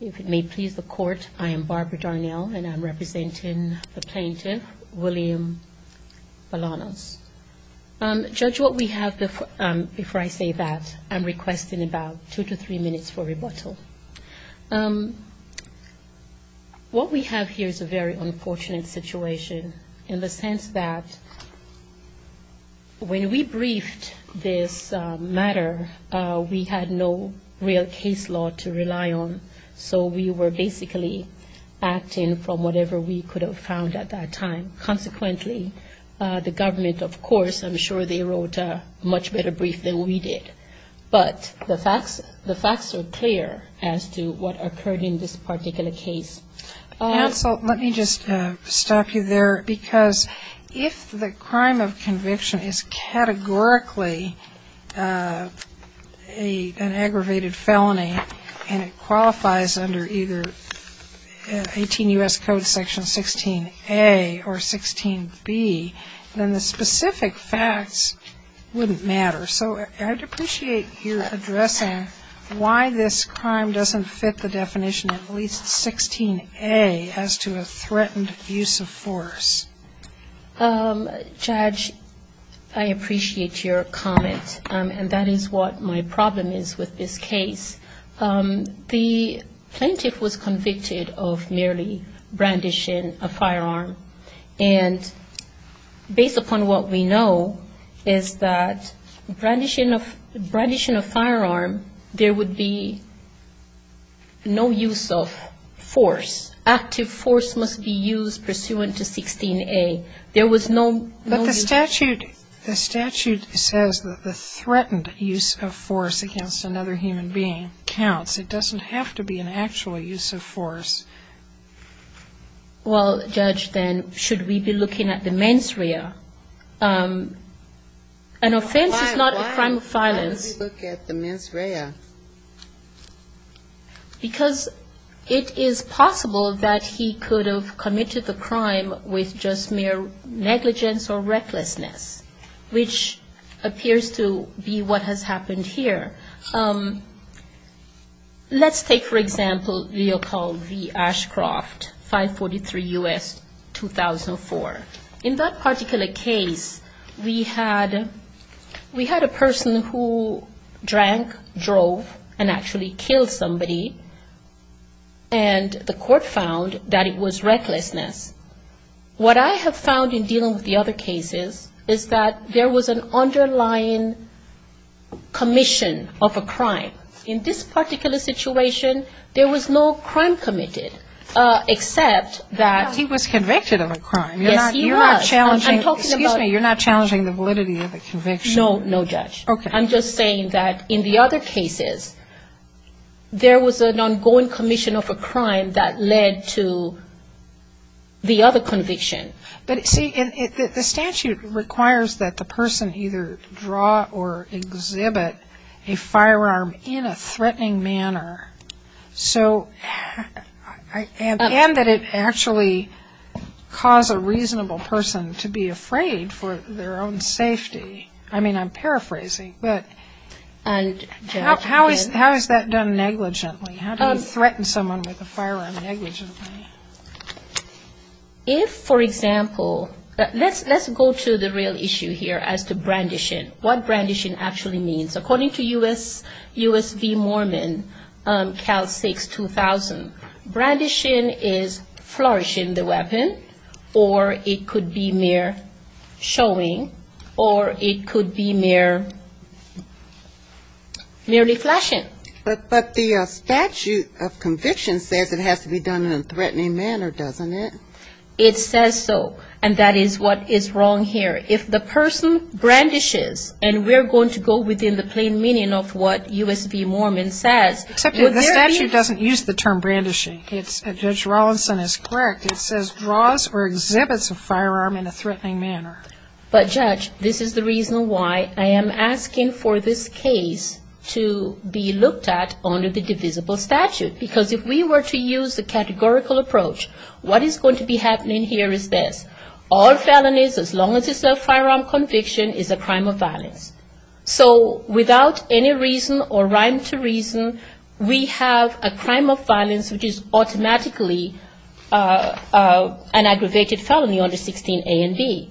If it may please the court, I am Barbara Darnell, and I'm representing the plaintiff, William Bolanos. Judge, what we have before I say that, I'm requesting about two to three minutes for rebuttal. What we have here is a very unfortunate situation in the sense that when we briefed this matter, we had no real case law to rely on. So we were basically acting from whatever we could have found at that time. Consequently, the government, of course, I'm sure they wrote a much better brief than we did. But the facts are clear as to what occurred in this particular case. Counsel, let me just stop you there because if the crime of conviction is categorically an aggravated felony and it qualifies under either 18 U.S. Code Section 16a or 16b, then the specific facts wouldn't matter. So I'd appreciate your addressing why this crime doesn't fit the definition of at least 16a as to a threatened abuse of force. Judge, I appreciate your comment. And that is what my problem is with this case. The plaintiff was convicted of merely brandishing a firearm. And based upon what we know is that brandishing a firearm, there would be no use of force. Active force must be used pursuant to 16a. There was no use of force. But the statute says that the threatened use of force against another human being counts. It doesn't have to be an actual use of force. Well, Judge, then, should we be looking at the mens rea? An offense is not a crime of violence. Why would we look at the mens rea? Because it is possible that he could have committed the crime with just mere negligence or recklessness, which appears to be what has happened here. Let's take, for example, the occult, the Ashcroft, 543 U.S., 2004. In that particular case, we had a person who drank, drove, and actually killed somebody, and the court found that it was recklessness. What I have found in dealing with the other cases is that there was an underlying commission of a crime. In this particular situation, there was no crime committed, except that he was convicted of a crime. Yes, he was. You're not challenging the validity of the conviction. No, no, Judge. Okay. I'm just saying that in the other cases, there was an ongoing commission of a crime that led to the other conviction. But, see, the statute requires that the person either draw or exhibit a firearm in a threatening manner, and that it actually cause a reasonable person to be afraid for their own safety. I mean, I'm paraphrasing, but how is that done negligently? How do you threaten someone with a firearm negligently? If, for example, let's go to the real issue here as to brandishing, what brandishing actually means. According to U.S. V. Mormon, Cal 6, 2000, brandishing is flourishing the weapon, or it could be mere showing, or it could be mere, merely flashing. But the statute of conviction says it has to be done in a threatening manner, doesn't it? It says so, and that is what is wrong here. If the person brandishes, and we're going to go within the plain meaning of what U.S. V. Mormon says. Except that the statute doesn't use the term brandishing. Judge Rawlinson is correct. It says draws or exhibits a firearm in a threatening manner. But, Judge, this is the reason why I am asking for this case to be looked at under the divisible statute. Because if we were to use the categorical approach, what is going to be happening here is this. All felonies, as long as it's a firearm conviction, is a crime of violence. So without any reason or rhyme to reason, we have a crime of violence which is automatically an aggravated felony under 16 A and B.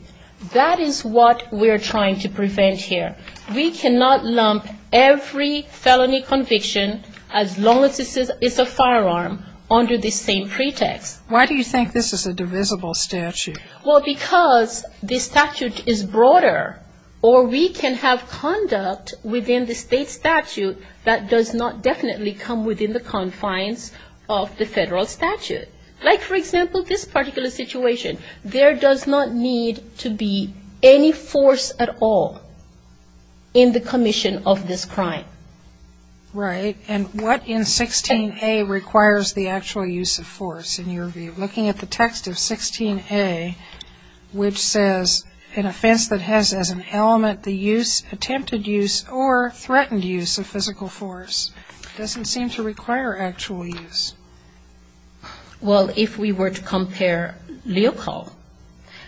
That is what we're trying to prevent here. We cannot lump every felony conviction, as long as it's a firearm, under the same pretext. Why do you think this is a divisible statute? Well, because the statute is broader, or we can have conduct within the state statute that does not definitely come within the confines of the federal statute. Like, for example, this particular situation. There does not need to be any force at all in the commission of this crime. Right. And what in 16 A requires the actual use of force in your view? Looking at the text of 16 A, which says an offense that has as an element the use, attempted use, or threatened use of physical force, doesn't seem to require actual use. Well, if we were to compare Leopold,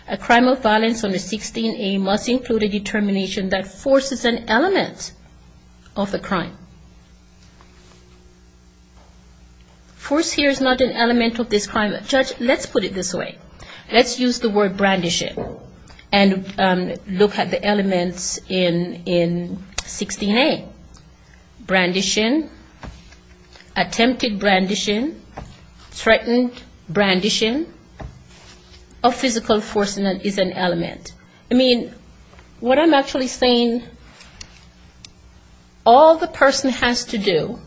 a crime of violence under 16 A must include a determination that force is an element of the crime. Force here is not an element of this crime. Judge, let's put it this way. Let's use the word brandishing and look at the elements in 16 A. Brandishing, attempted brandishing, threatened brandishing of physical force is an element. I mean, what I'm actually saying, all the person has to do,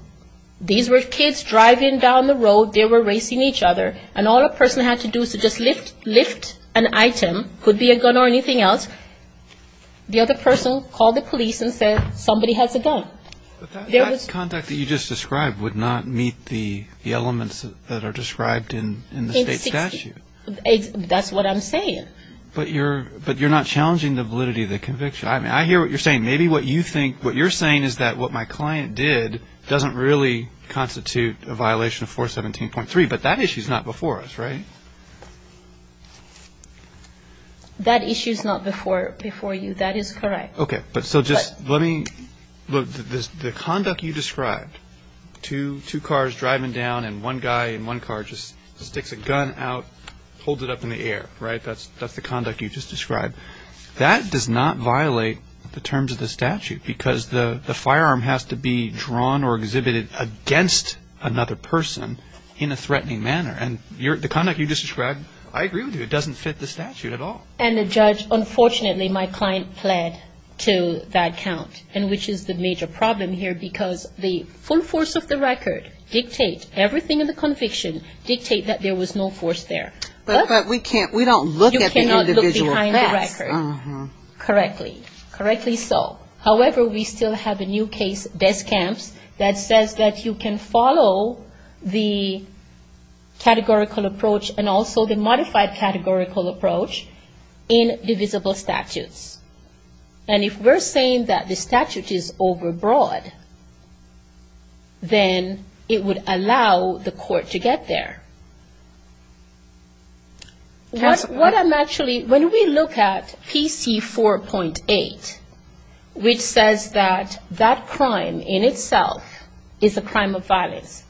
these were kids driving down the road, they were racing each other, and all a person had to do is to just lift an item, could be a gun or anything else. The other person called the police and said, somebody has a gun. But that contact that you just described would not meet the elements that are described in the state statute. That's what I'm saying. But you're not challenging the validity of the conviction. I mean, I hear what you're saying. Maybe what you're saying is that what my client did doesn't really constitute a violation of 417.3, but that issue is not before us, right? That issue is not before you. That is correct. Okay. But so just let me, look, the conduct you described, two cars driving down and one guy in one car just sticks a gun out, holds it up in the air, right? That's the conduct you just described. That does not violate the terms of the statute because the firearm has to be drawn or exhibited against another person in a threatening manner. And the conduct you just described, I agree with you. It doesn't fit the statute at all. And the judge, unfortunately, my client pled to that count, which is the major problem here because the full force of the record dictates, everything in the conviction dictates that there was no force there. But we can't, we don't look at the individual facts. You cannot look behind the record. Correctly. Correctly so. However, we still have a new case, Descamps, that says that you can follow the categorical approach and also the modified categorical approach in divisible statutes. And if we're saying that the statute is overbroad, then it would allow the court to get there. What I'm actually, when we look at PC 4.8, which says that that crime in itself is a crime of violence,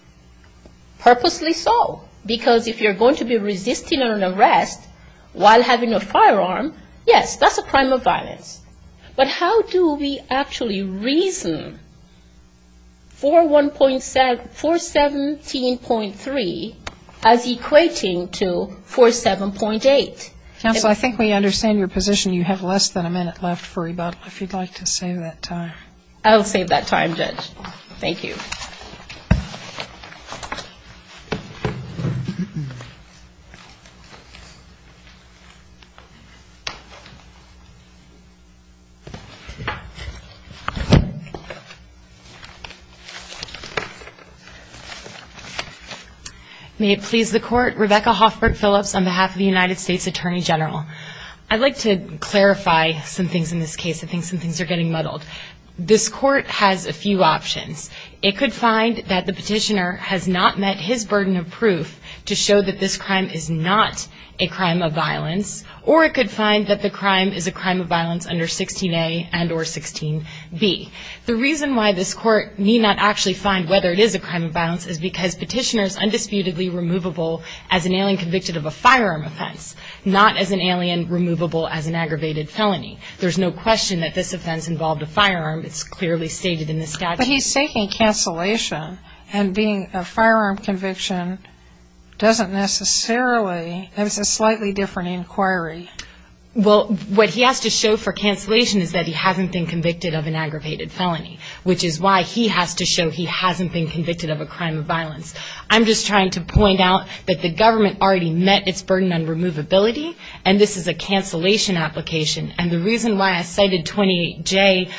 purposely so. Because if you're going to be resisting an arrest while having a firearm, yes, that's a crime of violence. But how do we actually reason 417.3 as equating to 47.8? Counsel, I think we understand your position. You have less than a minute left for rebuttal, if you'd like to save that time. I'll save that time, Judge. Thank you. Thank you. May it please the Court. Rebecca Hoffbert Phillips on behalf of the United States Attorney General. I'd like to clarify some things in this case. I think some things are getting muddled. This Court has a few options. It could find that the petitioner has not met his burden of proof to show that this crime is not a crime of violence. Or it could find that the crime is a crime of violence under 16a and or 16b. The reason why this Court need not actually find whether it is a crime of violence is because petitioner is undisputedly removable as an alien convicted of a firearm offense, not as an alien removable as an aggravated felony. There's no question that this offense involved a firearm. It's clearly stated in the statute. But he's taking cancellation and being a firearm conviction doesn't necessarily. It was a slightly different inquiry. Well, what he has to show for cancellation is that he hasn't been convicted of an aggravated felony, which is why he has to show he hasn't been convicted of a crime of violence. I'm just trying to point out that the government already met its burden on removability, and this is a cancellation application. And the reason why I cited 28J,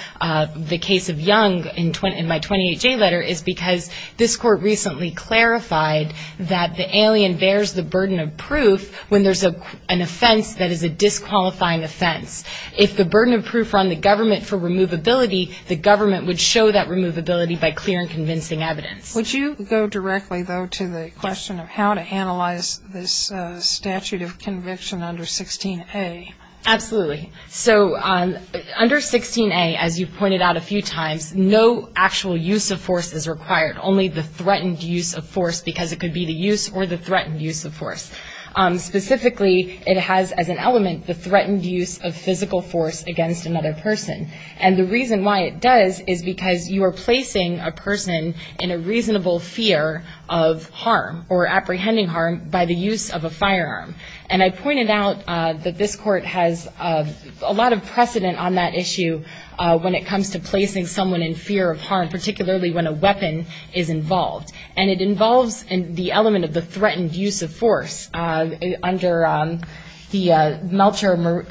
the case of Young in my 28J letter, is because this Court recently clarified that the alien bears the burden of proof when there's an offense that is a disqualifying offense. If the burden of proof were on the government for removability, the government would show that removability by clear and convincing evidence. Would you go directly, though, to the question of how to analyze this statute of conviction under 16A? Absolutely. So under 16A, as you pointed out a few times, no actual use of force is required, only the threatened use of force because it could be the use or the threatened use of force. Specifically, it has as an element the threatened use of physical force against another person. And the reason why it does is because you are placing a person in a reasonable fear of harm or apprehending harm by the use of a firearm. And I pointed out that this Court has a lot of precedent on that issue when it comes to placing someone in fear of harm, particularly when a weapon is involved. And it involves the element of the threatened use of force under the Meltzer,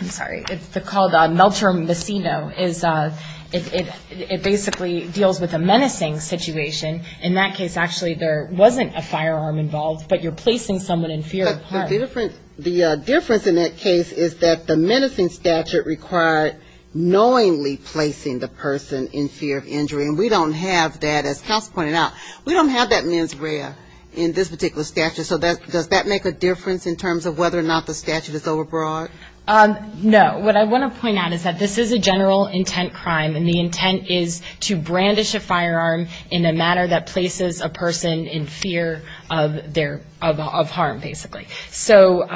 I'm sorry, it's called Meltzer-Messino. It basically deals with a menacing situation. In that case, actually, there wasn't a firearm involved, but you're placing someone in fear of harm. The difference in that case is that the menacing statute required knowingly placing the person in fear of injury. And we don't have that, as Counsel pointed out, we don't have that mens rea in this particular statute. So does that make a difference in terms of whether or not the statute is overbroad? No. What I want to point out is that this is a general intent crime, and the intent is to brandish a firearm in a manner that places a person in fear of harm, basically. So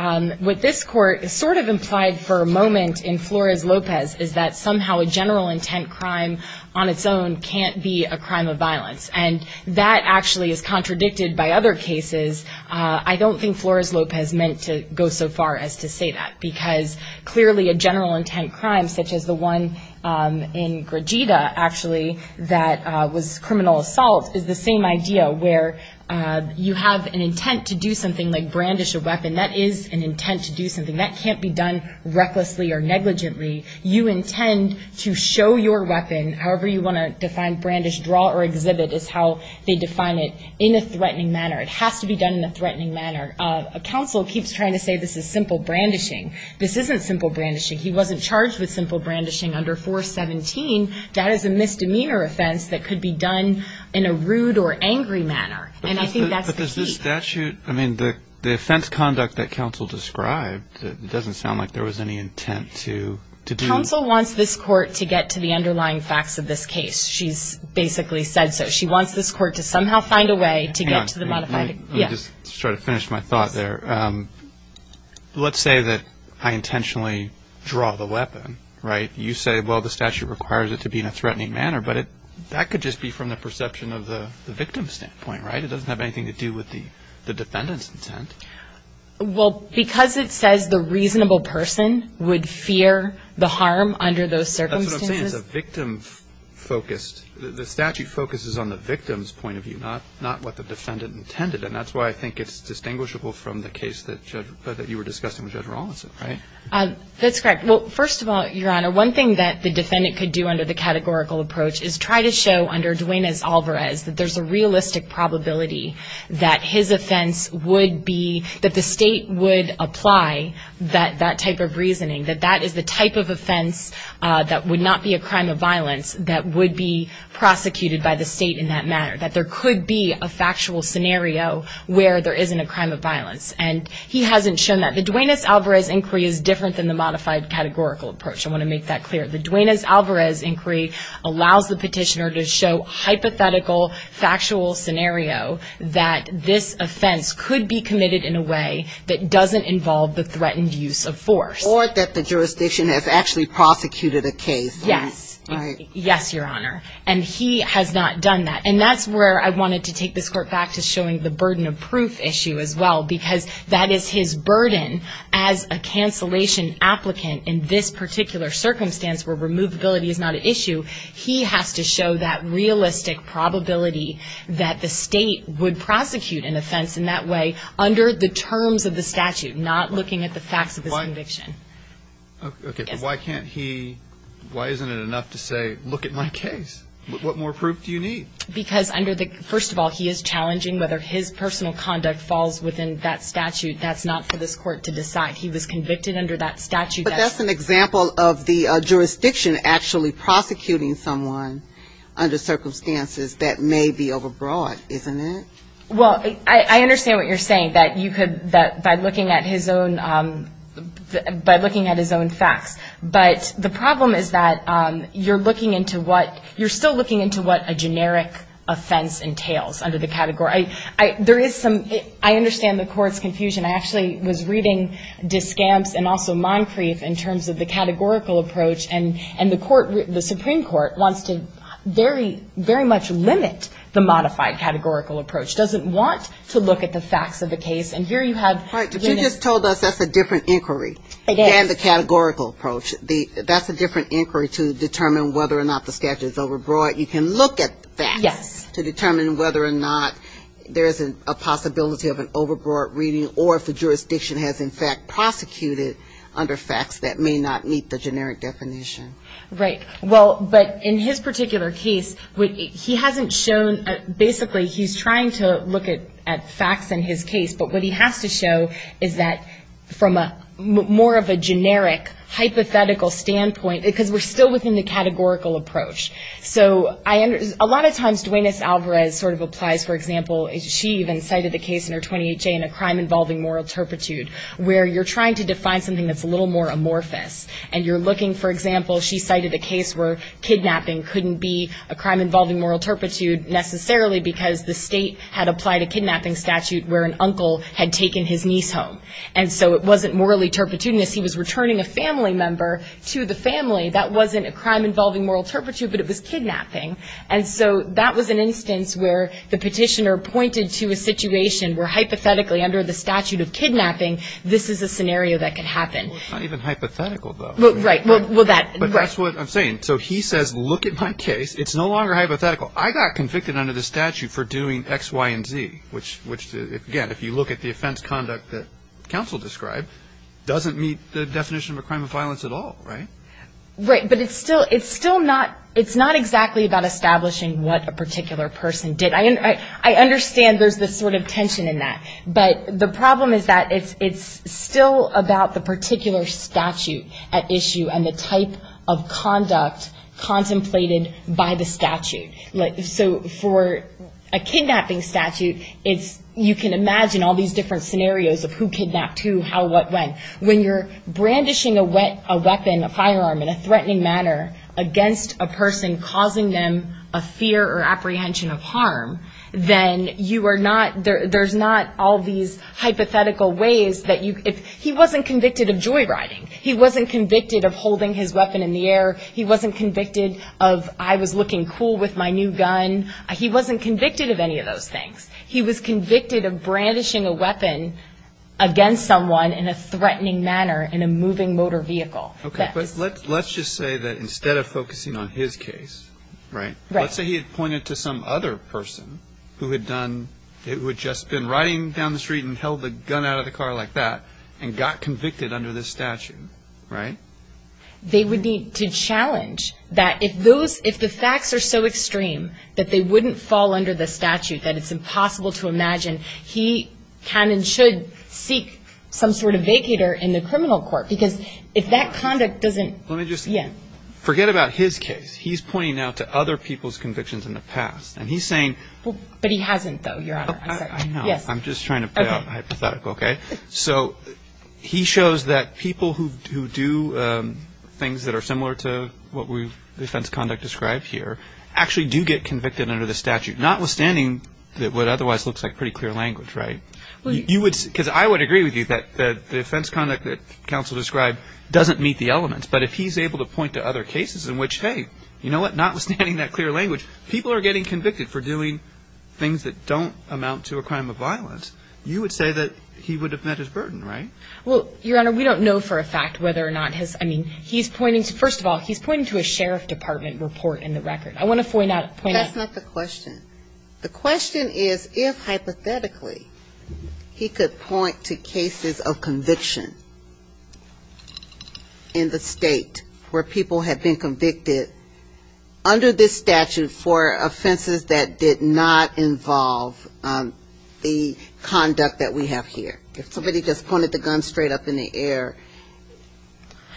what this Court sort of implied for a moment in Flores-Lopez is that somehow a general intent crime on its own can't be a crime of violence. And that actually is contradicted by other cases. I don't think Flores-Lopez meant to go so far as to say that, because clearly a general intent crime, such as the one in Gragida, actually, that was criminal assault, is the same idea, where you have an intent to do something like brandish a weapon. That is an intent to do something. That can't be done recklessly or negligently. You intend to show your weapon, however you want to define brandish, draw or exhibit, is how they define it, in a threatening manner. It has to be done in a threatening manner. Counsel keeps trying to say this is simple brandishing. This isn't simple brandishing. He wasn't charged with simple brandishing under 417. That is a misdemeanor offense that could be done in a rude or angry manner. And I think that's the key. The offense conduct that counsel described, it doesn't sound like there was any intent to do. Counsel wants this court to get to the underlying facts of this case. She's basically said so. Let's say that I intentionally draw the weapon. You say, well, the statute requires it to be in a threatening manner. But that could just be from the perception of the victim's standpoint. It doesn't have anything to do with the defendant's intent. Because it says the reasonable person would fear the harm under those circumstances. The statute focuses on the victim's point of view, not what the defendant intended. And that's why I think it's distinguishable from the case that you were discussing with Judge Rawlinson. That's correct. Well, first of all, Your Honor, one thing that the defendant could do under the categorical approach is try to show under Duenas-Alvarez that there's a realistic probability that his offense would be, that the state would apply that type of reasoning. That that is the type of offense that would not be a crime of violence that would be prosecuted by the state in that manner. That there could be a factual scenario where there isn't a crime of violence. And he hasn't shown that. The Duenas-Alvarez inquiry is different than the modified categorical approach. I want to make that clear. The Duenas-Alvarez inquiry allows the petitioner to show hypothetical, factual scenario that this offense could be committed in a way that doesn't involve the threatened use of force. Or that the jurisdiction has actually prosecuted a case. Yes. Yes, Your Honor. And he has not done that. And that's where I wanted to take this court back to showing the burden of proof issue as well. Because that is his burden as a cancellation applicant in this particular circumstance where removability is not an issue. He has to show that realistic probability that the state would prosecute an offense in that way under the terms of the statute, not looking at the facts of his conviction. Okay, but why can't he, why isn't it enough to say look at my case? What more proof do you need? Because under the, first of all, he is challenging whether his personal conduct falls within that statute. That's not for this court to decide. He was convicted under that statute. But that's an example of the jurisdiction actually prosecuting someone under circumstances that may be overbroad, isn't it? Well, I understand what you're saying, that you could, by looking at his own facts. But the problem is that you're looking into what, you're still looking into what a generic offense entails under the category. There is some, I understand the court's confusion. In terms of the categorical approach, and the court, the Supreme Court wants to very, very much limit the modified categorical approach. Doesn't want to look at the facts of the case, and here you have. Right, but you just told us that's a different inquiry than the categorical approach. That's a different inquiry to determine whether or not the statute is overbroad. You can look at facts to determine whether or not there is a possibility of an overbroad reading or if the jurisdiction has in fact a case that may not meet the generic definition. Right. Well, but in his particular case, he hasn't shown, basically he's trying to look at facts in his case. But what he has to show is that from a more of a generic hypothetical standpoint, because we're still within the categorical approach, so I, a lot of times Duenas-Alvarez sort of applies, for example, she even cited the case in her 20HA in a crime involving moral turpitude where you're trying to define something that's a little more amorphous. And you're looking, for example, she cited a case where kidnapping couldn't be a crime involving moral turpitude necessarily because the state had applied a kidnapping statute where an uncle had taken his niece home. And so it wasn't morally turpitudinous. He was returning a family member to the family. That wasn't a crime involving moral turpitude, but it was kidnapping. And so that was an instance where the petitioner pointed to a situation where hypothetically under the statute of kidnapping, this is a scenario that could happen. Well, it's not even hypothetical, though. Right. Well, that's what I'm saying. So he says, look at my case. It's no longer hypothetical. I got convicted under the statute for doing X, Y, and Z, which, again, if you look at the offense conduct that counsel described, doesn't meet the definition of a crime of violence at all, right? Right. But it's still not exactly about establishing what a particular person did. I understand there's this sort of tension in that. But the problem is that it's still about the particular statute at issue and the type of conduct contemplated by the statute. So for a kidnapping statute, you can imagine all these different scenarios of who kidnapped who and who did what. When you're brandishing a weapon, a firearm, in a threatening manner against a person causing them a fear or apprehension of harm, then you are not, there's not all these hypothetical ways that you, he wasn't convicted of joyriding. He wasn't convicted of holding his weapon in the air. He wasn't convicted of I was looking cool with my new gun. He wasn't convicted of any of those things. He wasn't convicted of holding his gun in a threatening manner in a moving motor vehicle. Okay. But let's just say that instead of focusing on his case, right, let's say he had pointed to some other person who had done, who had just been riding down the street and held the gun out of the car like that and got convicted under this statute, right? They would need to challenge that if those, if the facts are so extreme that they wouldn't fall under the statute, that it's impossible to sort of vacate her in the criminal court because if that conduct doesn't, let me just forget about his case. He's pointing out to other people's convictions in the past and he's saying, but he hasn't though. I'm just trying to put out a hypothetical. Okay. So he shows that people who do things that are similar to what we've defense conduct described here actually do get convicted under the statute, not withstanding that what otherwise looks like pretty clear language, right? Because I would agree with you that the defense conduct that counsel described doesn't meet the elements. But if he's able to point to other cases in which, hey, you know what, notwithstanding that clear language, people are getting convicted for doing things that don't amount to a crime of violence, you would say that he would have met his burden, right? Well, Your Honor, we don't know for a fact whether or not his, I mean, he's pointing to, first of all, he's pointing to a sheriff department report in the record. I want to point out. That's not the question. The question is if, hypothetically, he could point to cases of conviction in the state where people had been convicted under this statute for offenses that did not involve the conduct that we have here. If somebody just pointed the gun straight up in the air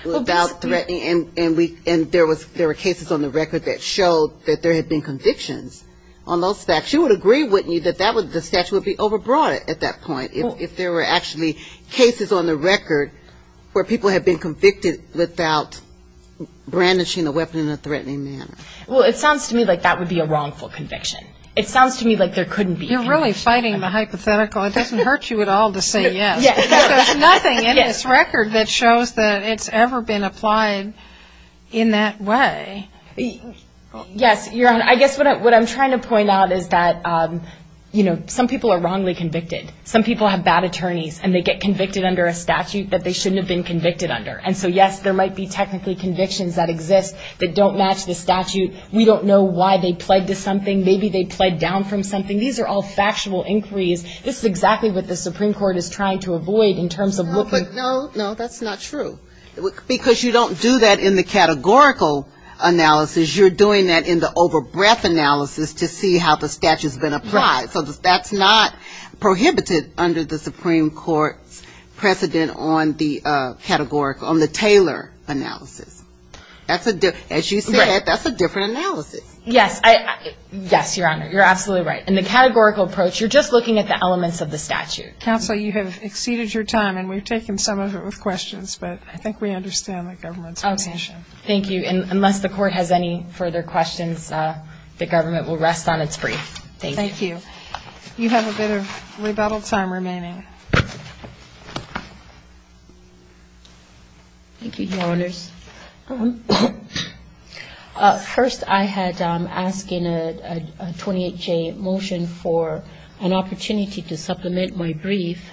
without threatening, and there were cases on the record that showed that there had been convictions on those facts, you would agree, wouldn't you, that the statute would be overbroad at that point if there were actually cases on the record where people had been convicted without brandishing the weapon in a threatening manner? Well, it sounds to me like that would be a wrongful conviction. It sounds to me like there couldn't be. You're really fighting the hypothetical. It doesn't hurt you at all to say yes. There's nothing in this record that shows that it's ever been applied in that way. Yes. Your Honor, I guess what I'm trying to point out is that, you know, some people are wrongly convicted. Some people have bad attorneys, and they get convicted under a statute that they shouldn't have been convicted under. And so, yes, there might be technically convictions that exist that don't match the statute. We don't know why they pled to something. Maybe they pled down from something. These are all factual inquiries. This is exactly what the Supreme Court is trying to avoid in terms of looking... No, that's not true, because you don't do that in the categorical analysis. You're doing that in the over-breath analysis to see how the statute's been applied. So that's not prohibited under the Supreme Court's precedent on the Taylor analysis. As you said, that's a different analysis. Yes, Your Honor. You're absolutely right. In the categorical approach, you're just looking at the elements of the statute. Counsel, you have exceeded your time, and we've taken some of it with questions, but I think we understand the government's intention. Thank you. And unless the Court has any further questions, the government will rest on its brief. Thank you. You have a bit of rebuttal time remaining. Thank you, Your Honors. First, I had asked in a 28-J motion for an opportunity to supplement my brief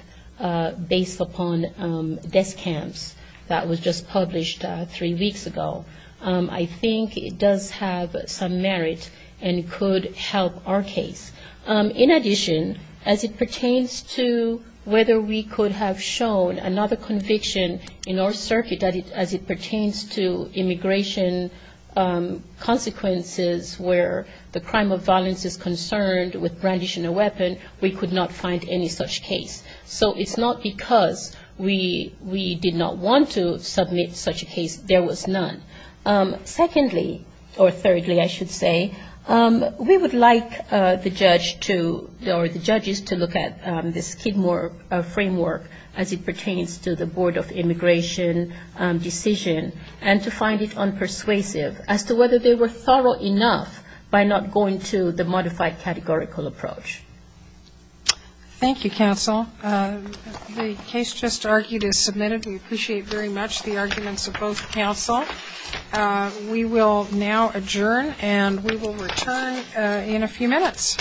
based upon desk camps that was just published three weeks ago. I think it does have some merit and could help our case. In addition, as it pertains to whether we could have shown another conviction in our circuit as it pertains to immigration consequences where the crime of violence is concerned with brandishing a weapon, we could not find any such case. So it's not because we did not want to submit such a case. There was none. Secondly, or thirdly, I should say, we would like the judge to or the judges to look at this Kidmore framework as it pertains to the Board of Immigration decision and to find it unpersuasive as to whether they were thorough enough by not going to the modified categorical approach. Thank you, counsel. The case just argued is submitted. We appreciate very much the arguments of both counsel. We will now adjourn and we will return in a few minutes.